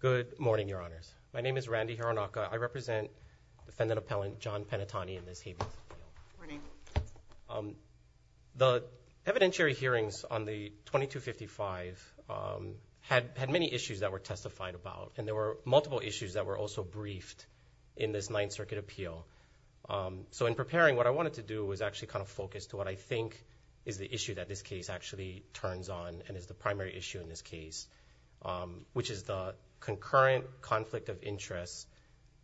Good morning, your honors. My name is Randy Hironaka. I represent defendant appellant John Penitani in this hearing. The evidentiary hearings on the 2255 had had many issues that were testified about and there were multiple issues that were also briefed in this Ninth Circuit appeal. So in preparing what I wanted to do was actually kind of focus to what I think is the issue that this issue in this case which is the concurrent conflict of interest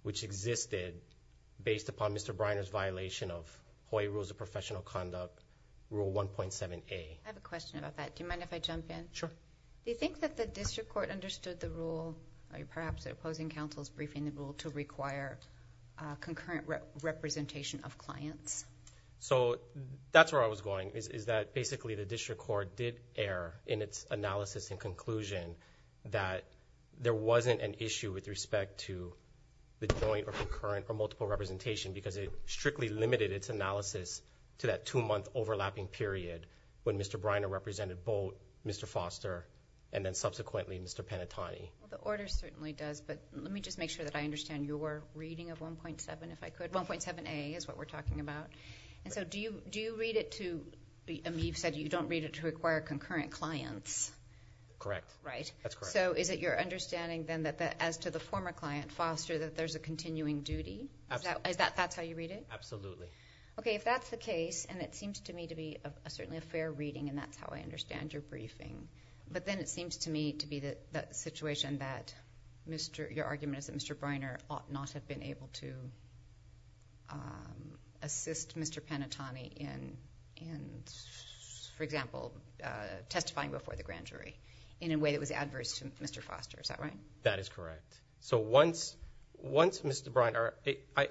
which existed based upon Mr. Briner's violation of Hawaii rules of professional conduct rule 1.7a. I have a question about that. Do you mind if I jump in? Sure. Do you think that the district court understood the rule or perhaps the opposing counsel's briefing the rule to require concurrent representation of clients? So that's where I was going is that basically the conclusion that there wasn't an issue with respect to the joint or concurrent or multiple representation because it strictly limited its analysis to that two-month overlapping period when Mr. Briner represented both Mr. Foster and then subsequently Mr. Penitani. The order certainly does but let me just make sure that I understand your reading of 1.7 if I could. 1.7a is what we're talking about and so do you do you read it to me you've said you don't read it to require concurrent clients. Correct. Right. That's correct. So is it your understanding then that that as to the former client Foster that there's a continuing duty? Is that that's how you read it? Absolutely. Okay if that's the case and it seems to me to be a certainly a fair reading and that's how I understand your briefing but then it seems to me to be that that situation that Mr. your argument is that Mr. Briner ought not have been able to assist Mr. Penitani in for example testifying before the grand jury in a way that was adverse to Mr. Foster is that right? That is correct. So once once Mr. Briner I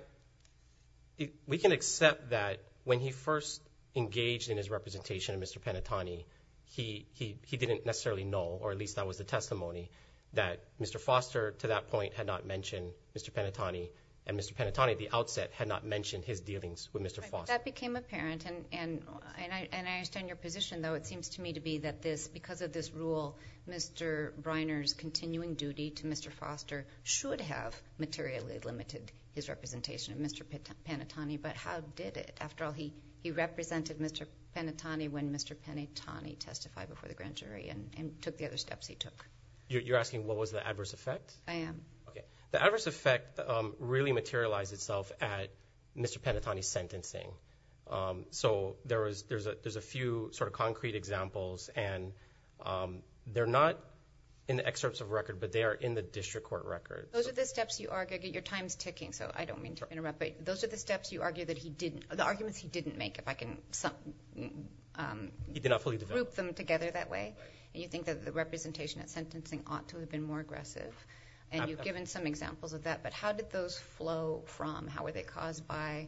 we can accept that when he first engaged in his representation of Mr. Penitani he he he didn't necessarily know or at least that was the testimony that Mr. Foster to that point had not mentioned Mr. Penitani and Mr. Penitani at the outset had not mentioned his dealings with Mr. Foster. That became apparent and and and I understand your position though it seems to me to be that this because of this rule Mr. Briner's continuing duty to Mr. Foster should have materially limited his representation of Mr. Penitani but how did it after all he he represented Mr. Penitani when Mr. Penitani testified before the grand jury and and took the other steps he took. You're asking what was the adverse effect? I am. Okay the adverse effect really materialized itself at Mr. Penitani's sentencing. So there was there's a there's a few sort of concrete examples and they're not in the excerpts of record but they are in the district court record. Those are the steps you argue get your times ticking so I don't mean to interrupt but those are the steps you argue that he didn't the arguments he didn't make if I can some he did not fully group them together that way you think that the representation at sentencing ought to have been more aggressive and you've given some examples of that but how did those flow from how were they caused by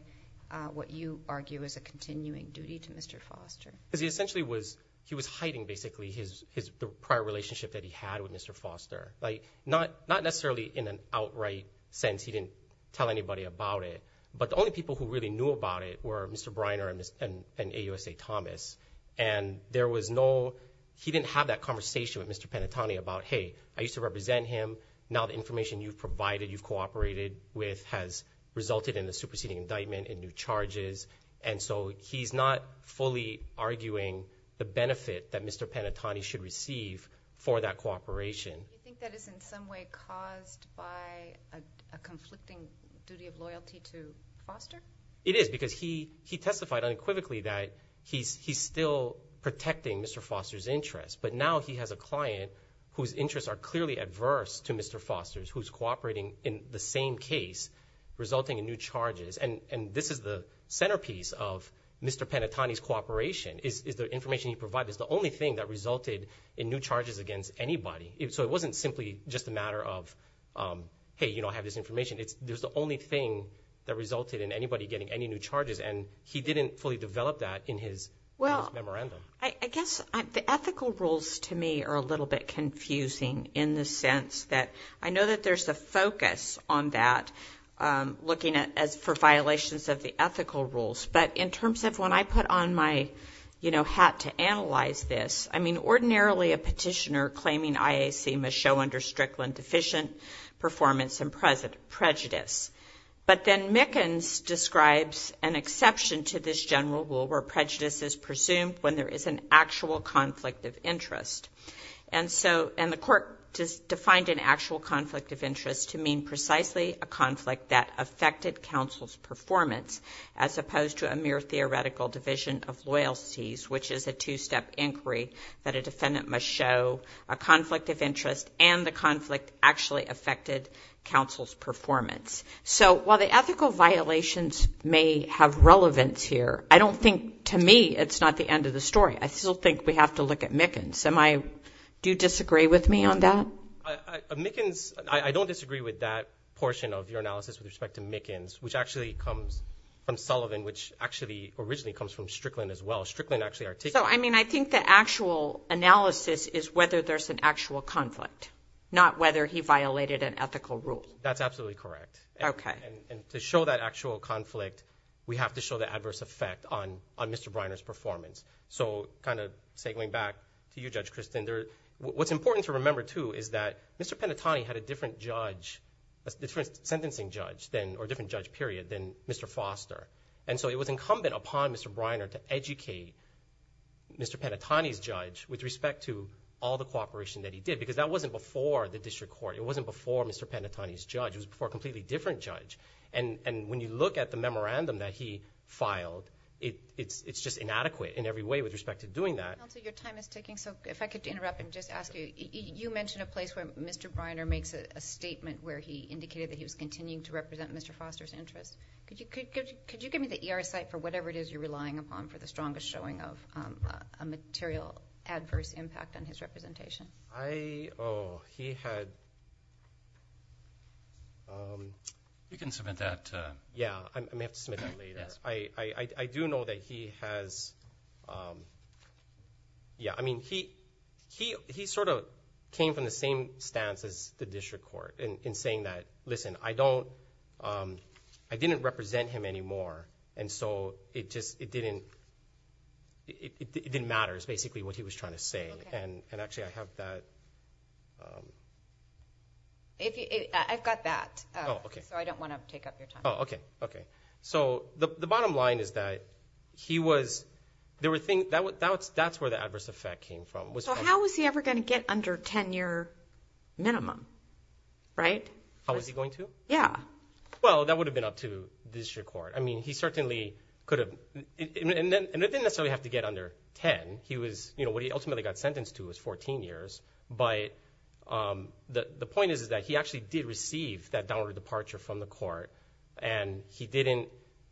what you argue is a continuing duty to Mr. Foster? Because he essentially was he was hiding basically his his prior relationship that he had with Mr. Foster like not not necessarily in an outright sense he didn't tell anybody about it but the only people who really knew about it were Mr. Briner and AUSA Thomas and there was no he didn't have that conversation with Mr. Penitani about hey I used to represent him now the information you've provided you've cooperated with has resulted in the superseding indictment in new charges and so he's not fully arguing the benefit that Mr. Penitani should receive for that cooperation. It is because he he testified unequivocally that he's he's protecting Mr. Foster's interest but now he has a client whose interests are clearly adverse to Mr. Foster's who's cooperating in the same case resulting in new charges and and this is the centerpiece of Mr. Penitani's cooperation is the information you provide is the only thing that resulted in new charges against anybody so it wasn't simply just a matter of hey you know I have this information it's there's the only thing that resulted in anybody getting any new charges and he didn't fully develop that in his memorandum. Well I guess the ethical rules to me are a little bit confusing in the sense that I know that there's a focus on that looking at as for violations of the ethical rules but in terms of when I put on my you know hat to analyze this I mean ordinarily a petitioner claiming IAC must show under Strickland deficient performance and prejudice but then Mickens describes an exception to this general rule where prejudice is presumed when there is an actual conflict of interest and so and the court just defined an actual conflict of interest to mean precisely a conflict that affected counsel's performance as opposed to a mere theoretical division of loyalties which is a two-step inquiry that a defendant must show a conflict of interest and the conflict actually affected counsel's performance. So while the ethical violations may have relevance here I don't think to me it's not the end of the story I still think we have to look at Mickens am I do you disagree with me on that? Mickens I don't disagree with that portion of your analysis with respect to Mickens which actually comes from Sullivan which actually originally comes from Strickland as well Strickland actually I mean I think the actual analysis is whether there's an actual conflict not whether he violated an ethical rule. That's absolutely correct okay and to show that actual conflict we have to show the adverse effect on on Mr. Briner's performance so kind of say going back to you Judge Christin there what's important to remember too is that Mr. Penatoni had a different judge a different sentencing judge then or different judge period than Mr. Foster and so it was incumbent upon Mr. Briner to educate Mr. Penatoni's judge with respect to all the cooperation that he did because that wasn't before the district court it wasn't before Mr. Penatoni's judge it was before a completely different judge and and when you look at the memorandum that he filed it it's it's just inadequate in every way with respect to doing that. Counselor your time is ticking so if I could interrupt and just ask you you mentioned a place where Mr. Briner makes a statement where he indicated that he was continuing to represent Mr. Foster's interests could you could you give me the ER site for whatever it is you're relying upon for the strongest showing of a material adverse impact on his representation. I oh he had you can submit that yeah I may have to submit that later. I I do know that he has yeah I mean he he he sort of came from the same stance as the district court in saying that listen I don't I didn't represent him anymore and so it just it didn't it didn't matters basically what he was trying to say and and actually I have that. I've got that okay so I don't want to take up your time. Okay okay so the bottom line is that he was there were things that was that's that's where the adverse effect came from. So how was he ever going to get under tenure minimum right? How was he going to? Yeah. Well that would have been up to the district court I mean he certainly could have and it didn't necessarily have to get under 10 he was you know what he ultimately got sentenced to was 14 years but the point is is that he actually did receive that downward departure from the court and he didn't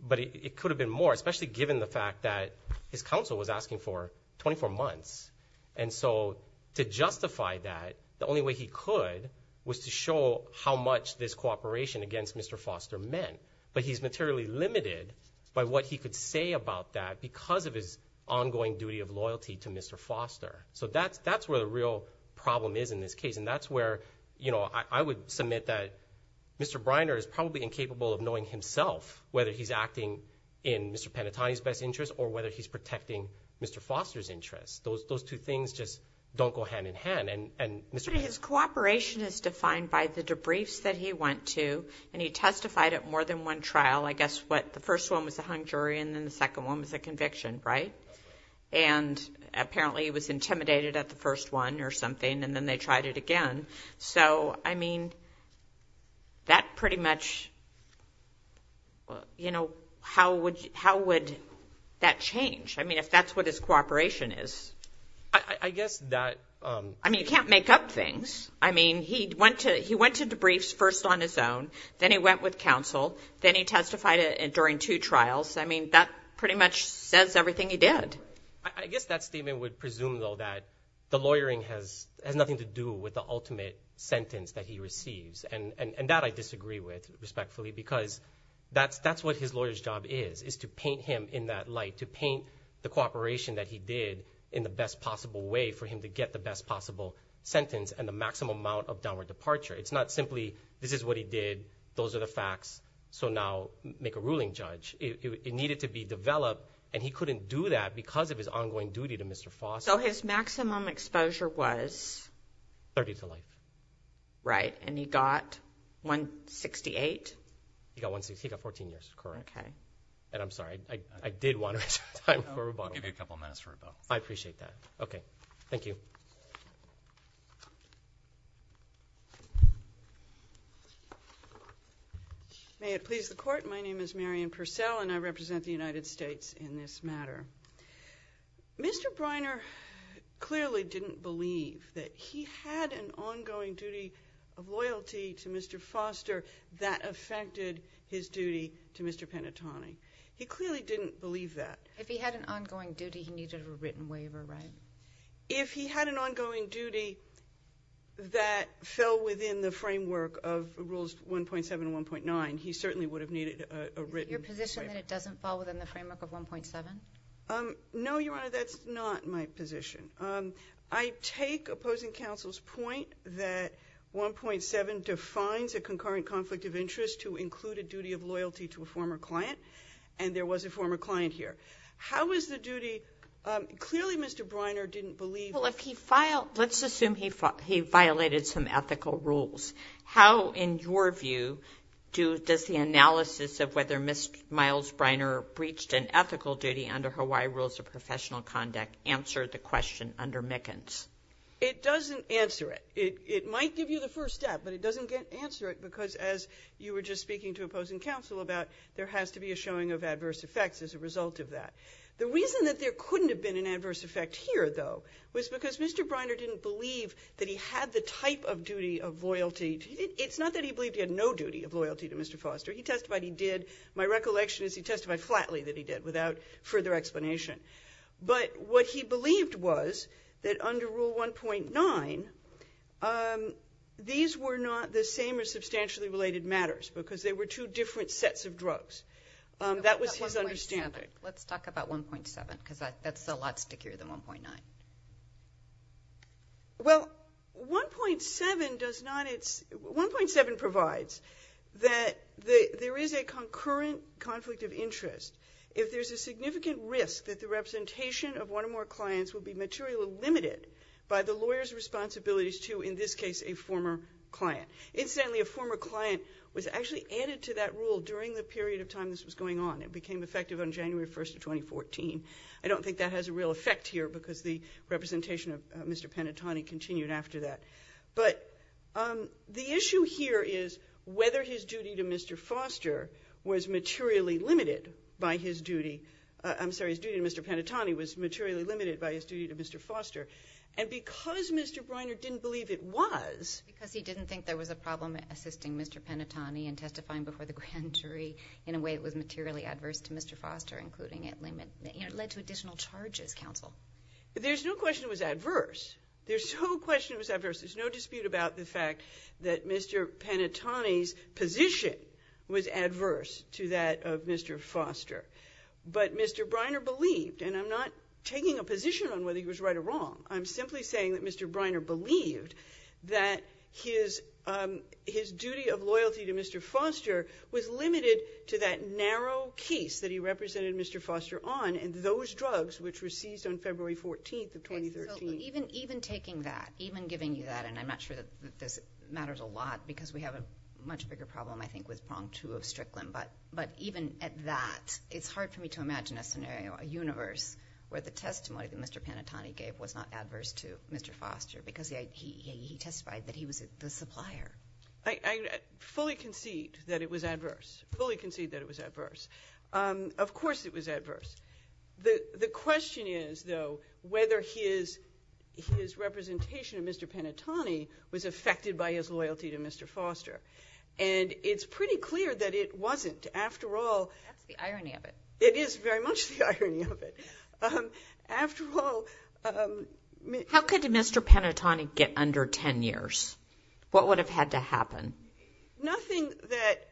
but it could have been more especially given the fact that his counsel was asking for 24 months and so to justify that the only way he could was to show how much this cooperation against Mr. Foster meant but he's materially limited by what he could say about that because of his ongoing duty of loyalty to Mr. Foster. So that's that's where the real problem is in this case and that's where you know I would submit that Mr. Briner is probably incapable of knowing himself whether he's acting in Mr. Panettone's best interest or whether he's protecting Mr. Foster's interests. Those those two things just don't go hand-in-hand and and Mr. Panettone. His cooperation is defined by the debriefs that he went to and he testified at more than one trial I guess what the first one was a hung jury and then the second one was a conviction right and apparently he was intimidated at the first one or something and then they tried it again so I mean that pretty much you know how would how would that change I mean if that's what his cooperation is. I guess that I mean you can't make up things I mean he went to he went to debriefs first on his own then he went with counsel then he testified it during two trials I mean that pretty much says everything he did. I guess that statement would presume though that the lawyering has has nothing to do with the ultimate sentence that he receives and and that I disagree with respectfully because that's that's what his lawyers job is is to paint him in that light to paint the cooperation that he did in the best possible way for him to get the best possible sentence and the maximum amount of downward departure it's not simply this is what he did those are the facts so now make a ruling judge it needed to be developed and he couldn't do that because of his ongoing duty to Mr. Foster. So his Mr. Briner clearly didn't believe that he had an ongoing duty of loyalty to Mr. Panettone. He clearly didn't believe that. If he had an ongoing duty he needed a written waiver right? If he had an ongoing duty that fell within the framework of rules 1.7 1.9 he certainly would have needed a written waiver. Your position that it doesn't fall within the framework of 1.7? No your honor that's not my position. I take opposing counsel's point that 1.7 defines a client and there was a former client here. How is the duty clearly Mr. Briner didn't believe. Well if he filed let's assume he thought he violated some ethical rules how in your view do does the analysis of whether Mr. Miles Briner breached an ethical duty under Hawaii rules of professional conduct answer the question under Mickens? It doesn't answer it it might give you the first step but it doesn't get answer it because as you were just speaking to opposing counsel about there has to be a showing of adverse effects as a result of that. The reason that there couldn't have been an adverse effect here though was because Mr. Briner didn't believe that he had the type of duty of loyalty. It's not that he believed he had no duty of loyalty to Mr. Foster. He testified he did. My recollection is he testified flatly that he did without further explanation but what he believed was that under rule 1.9 these were not the drugs. That was his understanding. Let's talk about 1.7 because that's a lot stickier than 1.9. Well 1.7 does not it's 1.7 provides that the there is a concurrent conflict of interest if there's a significant risk that the representation of one or more clients would be materially limited by the lawyers responsibilities to in this case a former client. Incidentally a former client was actually added to that rule during the period of time this was going on. It became effective on January 1st of 2014. I don't think that has a real effect here because the representation of Mr. Panettone continued after that but the issue here is whether his duty to Mr. Foster was materially limited by his duty. I'm sorry his duty to Mr. Panettone was materially limited by his duty to Mr. Foster and because Mr. Briner didn't believe it was because he didn't think there was a problem assisting Mr. Panettone and testifying before the grand jury in a way it was materially adverse to Mr. Foster including it limit it led to additional charges counsel. There's no question it was adverse. There's no question it was adverse. There's no dispute about the fact that Mr. Panettone's position was adverse to that of Mr. Foster but Mr. Briner believed and I'm not taking a position on whether he was right or his duty of loyalty to Mr. Foster was limited to that narrow case that he represented Mr. Foster on and those drugs which were seized on February 14th of 2013. Even taking that even giving you that and I'm not sure that this matters a lot because we have a much bigger problem I think with prong two of Strickland but but even at that it's hard for me to imagine a scenario a universe where the testimony that Mr. Panettone gave was not adverse to Mr. Supplier. I fully concede that it was adverse. Fully concede that it was adverse. Of course it was adverse. The the question is though whether his his representation of Mr. Panettone was affected by his loyalty to Mr. Foster and it's pretty clear that it wasn't after all. That's the irony of it. It is very much the irony of it. After all... How could Mr. Panettone get under 10 years? What would have had to happen? Nothing that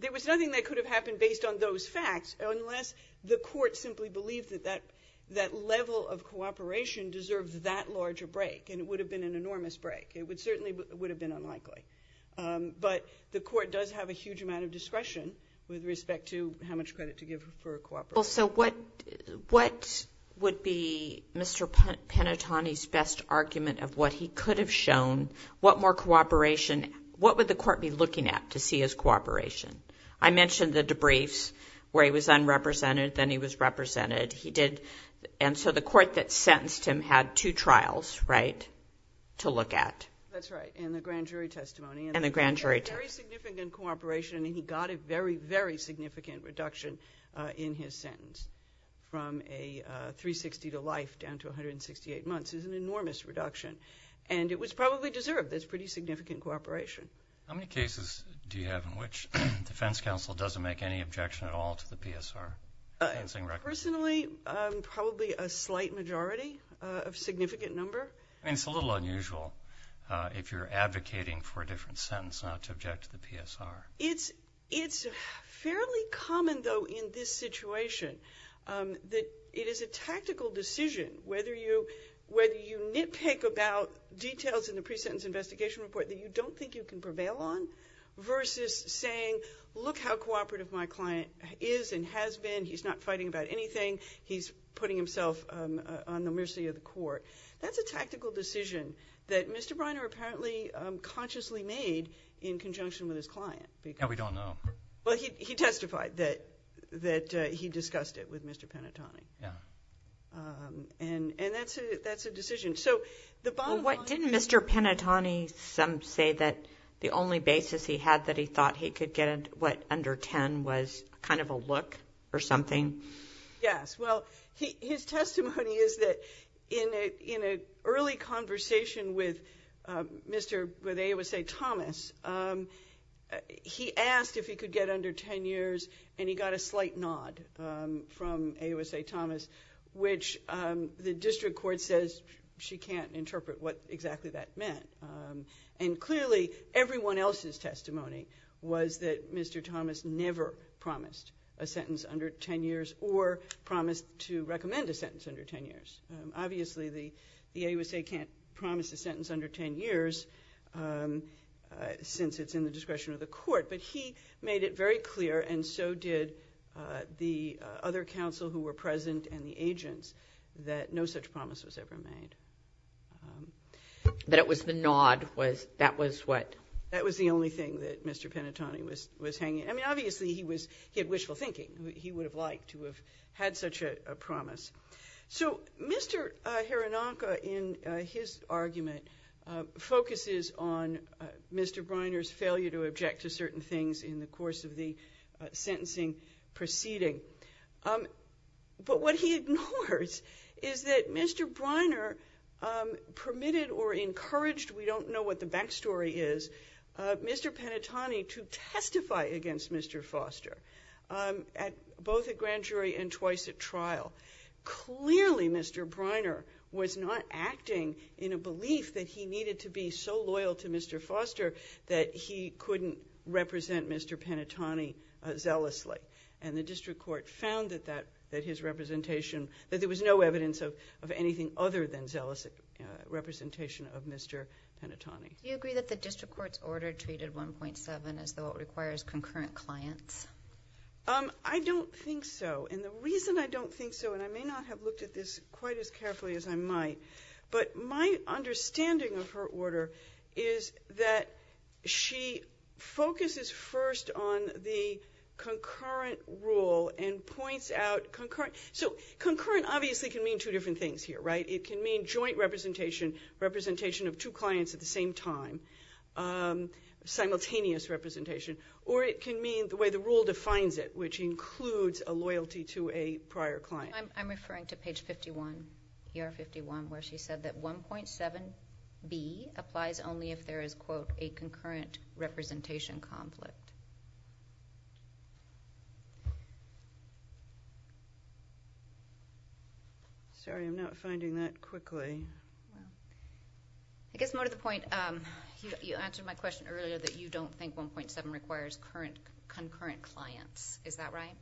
there was nothing that could have happened based on those facts unless the court simply believed that that that level of cooperation deserved that large a break and it would have been an enormous break. It would certainly would have been unlikely but the court does have a huge amount of discretion with respect to how much credit to give for cooperation. So what what would be Mr. Panettone's best argument of what he could have shown? What more cooperation? What would the court be looking at to see his cooperation? I mentioned the debriefs where he was unrepresented then he was represented. He did and so the court that sentenced him had two trials right to look at. That's right. And the grand jury testimony. And the grand jury testimony. Very significant cooperation and he got a very very significant reduction in his sentence. From a 360 to life down to 168 months is an enormous reduction and it was probably deserved. That's pretty significant cooperation. How many cases do you have in which defense counsel doesn't make any objection at all to the PSR? Personally probably a slight majority of significant number. I mean it's a little unusual. If you're advocating for a different sentence not to object to the PSR. It's it's fairly common though in this situation that it is a tactical decision whether you whether you nitpick about details in the pre-sentence investigation report that you don't think you can prevail on versus saying look how cooperative my client is and has been. He's not fighting about anything. He's putting himself on the mercy of the court. That's a tactical decision that Mr. Breiner apparently consciously made in conjunction with his client. Now we don't know. Well he testified that that he discussed it with Mr. Penatoni. Yeah. And and that's a that's a decision. So the bottom line. What didn't Mr. Penatoni some say that the only basis he had that he thought he could get what under 10 was kind of a look or something? Yes well his testimony is that in a in a early conversation with Mr. with AOSA Thomas he asked if he could get under 10 years and he got a slight nod from AOSA Thomas which the district court says she can't interpret what exactly that meant. And clearly everyone else's testimony was that Mr. Thomas never promised a sentence under 10 years or promised to recommend a sentence under 10 years. Obviously the the AOSA can't promise a sentence under 10 years since it's in the discretion of the court but he made it very clear and so did the other counsel who were present and the agents that no such promise was ever made. That it was the nod was that was what? That was the only thing that Mr. Penatoni was was hanging. I mean he had such a promise. So Mr. Hironaka in his argument focuses on Mr. Briner's failure to object to certain things in the course of the sentencing proceeding. But what he ignores is that Mr. Briner permitted or encouraged, we don't know what the backstory is, Mr. Penatoni to testify against Mr. Foster at both at grand jury and twice at trial. Clearly Mr. Briner was not acting in a belief that he needed to be so loyal to Mr. Foster that he couldn't represent Mr. Penatoni zealously. And the district court found that that that his representation that there was no evidence of of anything other than zealous representation of Mr. Penatoni. Do you agree that the district court's order treated 1.7 as though it requires concurrent clients? I don't think so. And the reason I don't think so, and I may not have looked at this quite as carefully as I might, but my understanding of her order is that she focuses first on the concurrent rule and points out concurrent. So concurrent obviously can mean two different things here, right? It can mean joint representation, representation of two clients at the same time, simultaneous representation, or it can mean the way the rule defines it, which includes a loyalty to a prior client. I'm referring to page 51, where she said that 1.7b applies only if there is quote a concurrent representation conflict. Sorry, I'm not finding that quickly. I guess more to the point, you answered my question earlier that you don't think 1.7 requires concurrent clients. Is that right?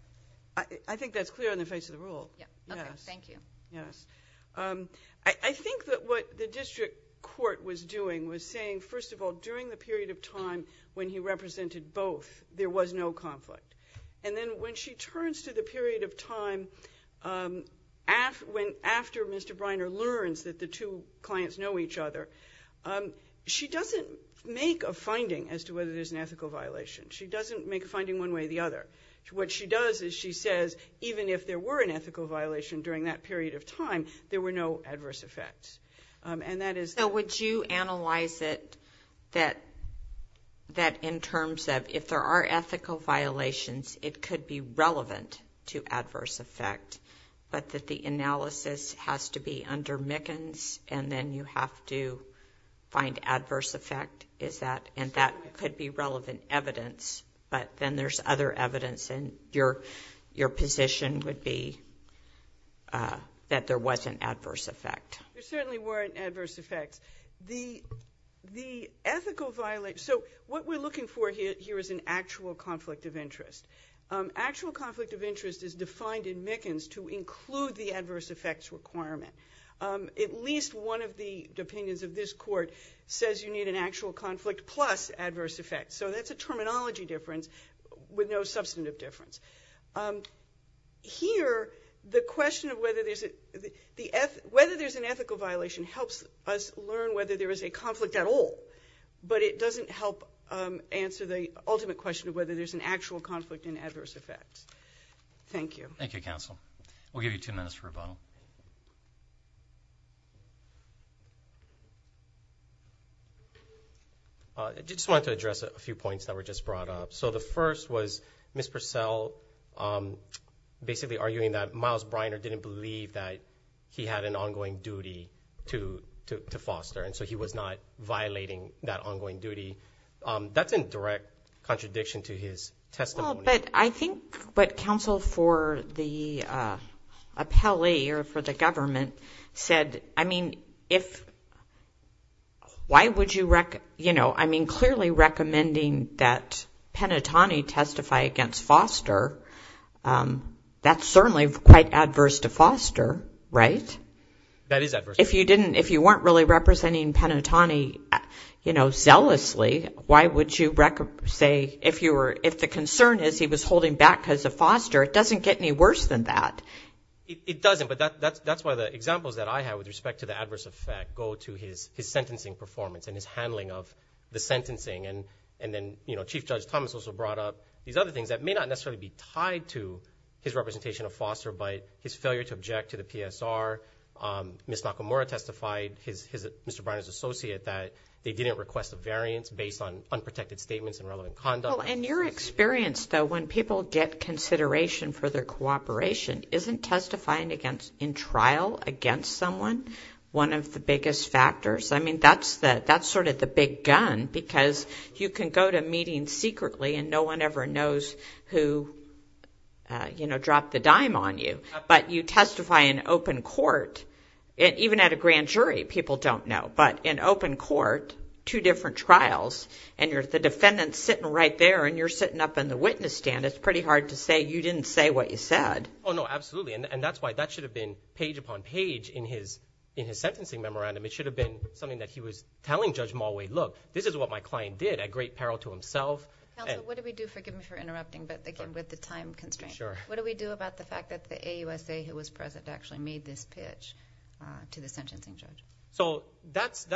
I think that's clear in the face of the rule. Thank you. Yes. I think that what the district court was doing was saying, first of all, during the period of both, there was no conflict. And then when she turns to the period of time after Mr. Briner learns that the two clients know each other, she doesn't make a finding as to whether there's an ethical violation. She doesn't make a finding one way or the other. What she does is she says, even if there were an ethical violation during that period of time, there were no adverse effects. And that if there are ethical violations, it could be relevant to adverse effect. But that the analysis has to be under Mickens, and then you have to find adverse effect. And that could be relevant evidence. But then there's other evidence, and your position would be that there was an adverse effect. There certainly weren't adverse effects. So what we're looking for here is an actual conflict of interest. Actual conflict of interest is defined in Mickens to include the adverse effects requirement. At least one of the opinions of this court says you need an actual conflict plus adverse effects. So that's a terminology difference with no substantive difference. Here, the question of whether there's an ethical violation helps us learn whether there is a conflict at all. But it doesn't help answer the ultimate question of whether there's an actual conflict in adverse effects. Thank you. Thank you, counsel. We'll give you two minutes for rebuttal. I just wanted to address a few points that were just brought up. So the first was Ms. Purcell basically arguing that Miles Briner didn't believe that he had an ongoing duty to foster. And so he was not violating that ongoing duty. That's in direct contradiction to his testimony. Well, but I think what counsel for the appellee or for the government said, I mean, if... Why would you... I mean, clearly recommending that Penatoni testify against Foster, that's certainly quite adverse to Foster, right? That is adverse. If you didn't... If you weren't really representing Penatoni, you know, zealously, why would you say if you were... If the concern is he was holding back because of Foster, it doesn't get any worse than that. It doesn't. But that's why the examples that I have with respect to the adverse effect go to his sentencing performance and his handling of the sentencing. And then, you know, Chief Judge Thomas also brought up these other things that may not necessarily be tied to his representation of Foster by his failure to object to the PSR. Ms. Nakamura testified, his... Mr. Briner's associate, that they didn't request a variance based on unprotected statements and relevant conduct. Well, and your experience, though, when people get consideration for their cooperation, isn't testifying against... In trial against someone one of the big gun because you can go to a meeting secretly and no one ever knows who, you know, dropped the dime on you. But you testify in open court, even at a grand jury, people don't know. But in open court, two different trials, and the defendant's sitting right there and you're sitting up in the witness stand, it's pretty hard to say you didn't say what you said. Oh, no, absolutely. And that's why that should have been page upon page in his sentencing memorandum. It should have been something that he was telling Judge Mulway, look, this is what my client did at great peril to himself. Counsel, what do we do... Forgive me for interrupting, but again, with the time constraint. Sure. What do we do about the fact that the AUSA who was present actually made this pitch to the sentencing judge? So, that's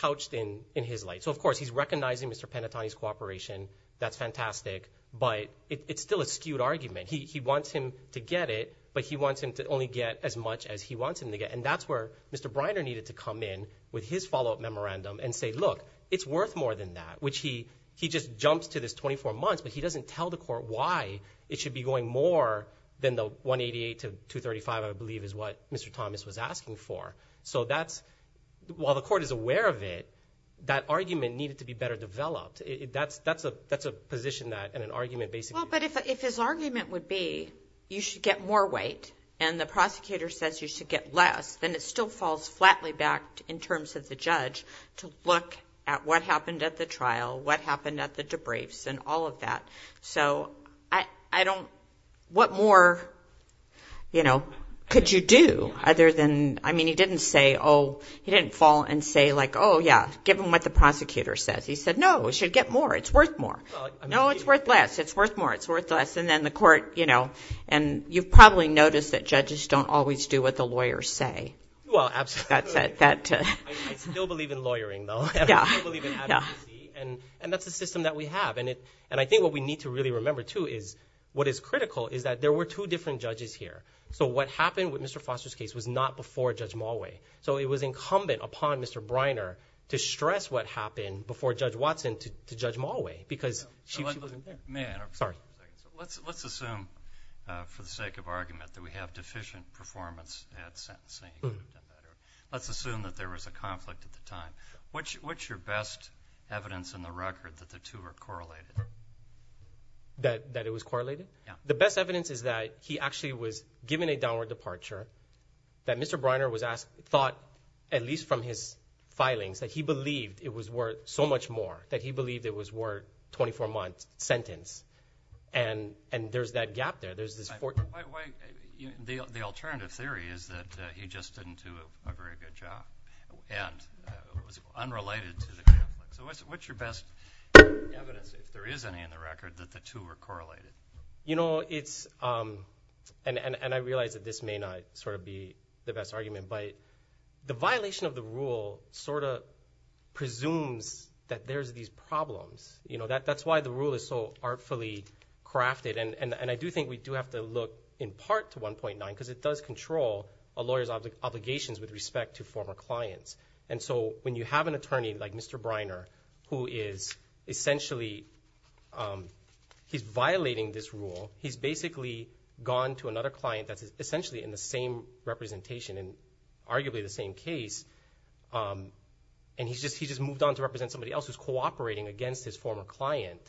couched in his light. So, of course, he's recognizing Mr. Panettone's cooperation, that's fantastic, but it's still a skewed argument. He wants him to get it, but he wants him to only get as much as he wants him to get. And that's where Mr. Briner needed to come in with his follow-up memorandum and say, look, it's worth more than that, which he just jumps to this 24 months, but he doesn't tell the court why it should be going more than the 188 to 235, I believe, is what Mr. Thomas was asking for. So, while the court is aware of it, that argument needed to be better developed. That's a position that an argument basically... Well, but if his argument would be, you should get more weight and the impact in terms of the judge to look at what happened at the trial, what happened at the debriefs and all of that. So, I don't... What more, you know, could you do other than... I mean, he didn't say, oh, he didn't fall and say like, oh, yeah, give him what the prosecutor says. He said, no, it should get more, it's worth more. No, it's worth less, it's worth more, it's worth less. And then the court, you know, and you've probably noticed that judges don't always do what the judge says. I still believe in lawyering, though, and I still believe in advocacy, and that's a system that we have. And I think what we need to really remember, too, is what is critical is that there were two different judges here. So, what happened with Mr. Foster's case was not before Judge Malway. So, it was incumbent upon Mr. Briner to stress what happened before Judge Watson to Judge Malway because she wasn't there. Let's assume, for the sake of argument, that we have deficient performance at sentencing. Let's assume that there was a conflict at the time. What's your best evidence in the record that the two are correlated? That it was correlated? Yeah. The best evidence is that he actually was given a downward departure, that Mr. Briner was asked, thought, at least from his filings, that he believed it was worth so much more, that he believed it was worth 24 months sentence. And there's that gap there. There's this... The alternative theory is that he just didn't do a very good job and it was unrelated to the conflict. So, what's your best evidence, if there is any, in the record that the two are correlated? You know, it's... And I realize that this may not sort of be the best argument, but the violation of the rule sort of presumes that there's these problems. You know, that's why the rule is so artfully crafted. And I do think we do have to look, in part, to 1.9 because it does control a lawyer's obligations with respect to former clients. And so, when you have an attorney like Mr. Briner, who is essentially... He's violating this rule. He's basically gone to another client that's essentially in the same representation, and arguably the same case, and he's just moved on to represent somebody else who's cooperating against his former client,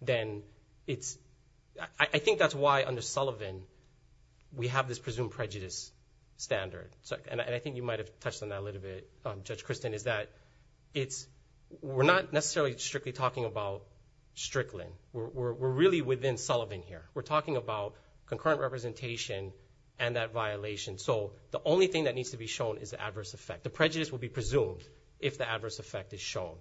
then it's... I think that's why, under the prejudice standard. And I think you might have touched on that a little bit, Judge Christin, is that it's... We're not necessarily strictly talking about Strickland. We're really within Sullivan here. We're talking about concurrent representation and that violation. So, the only thing that needs to be shown is adverse effect. The prejudice will be presumed if the adverse effect is shown.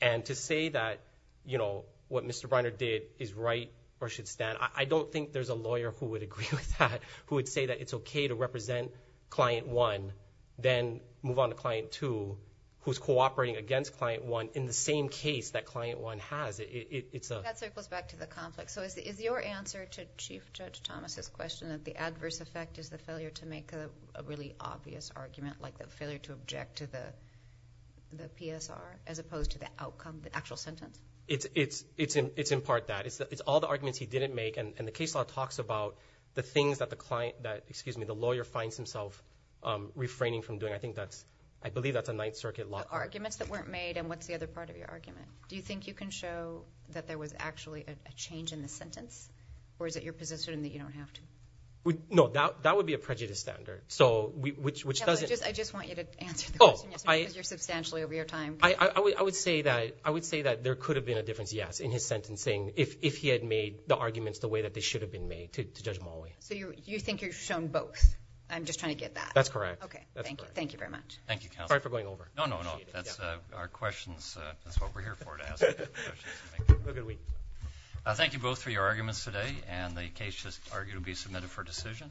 And to say that, you know, what Mr. Briner did is right or should stand, I don't think there's a lawyer who would agree with that, who would say that it's okay to represent client one, then move on to client two, who's cooperating against client one in the same case that client one has. It's a... That circles back to the conflict. So, is your answer to Chief Judge Thomas's question that the adverse effect is the failure to make a really obvious argument, like the failure to object to the PSR, as opposed to the outcome, the actual sentence? It's in part that. It's all the arguments he didn't make. And the case law talks about the things that the client, that, excuse me, the lawyer finds himself refraining from doing. I think that's, I believe that's a Ninth Circuit law. The arguments that weren't made and what's the other part of your argument? Do you think you can show that there was actually a change in the sentence? Or is it your position that you don't have to? No, that would be a prejudice standard. So, which doesn't... I just want you to answer the question because you're substantially over your time. I would say that there could have been a difference, yes, in his the way that they should have been made, to Judge Molloy. So, you think you've shown both? I'm just trying to get that. That's correct. Okay, thank you. Thank you very much. Thank you, counsel. Sorry for going over. No, no, no. That's our questions. That's what we're here for, to ask you questions. Thank you both for your arguments today and the case is arguably submitted for decision.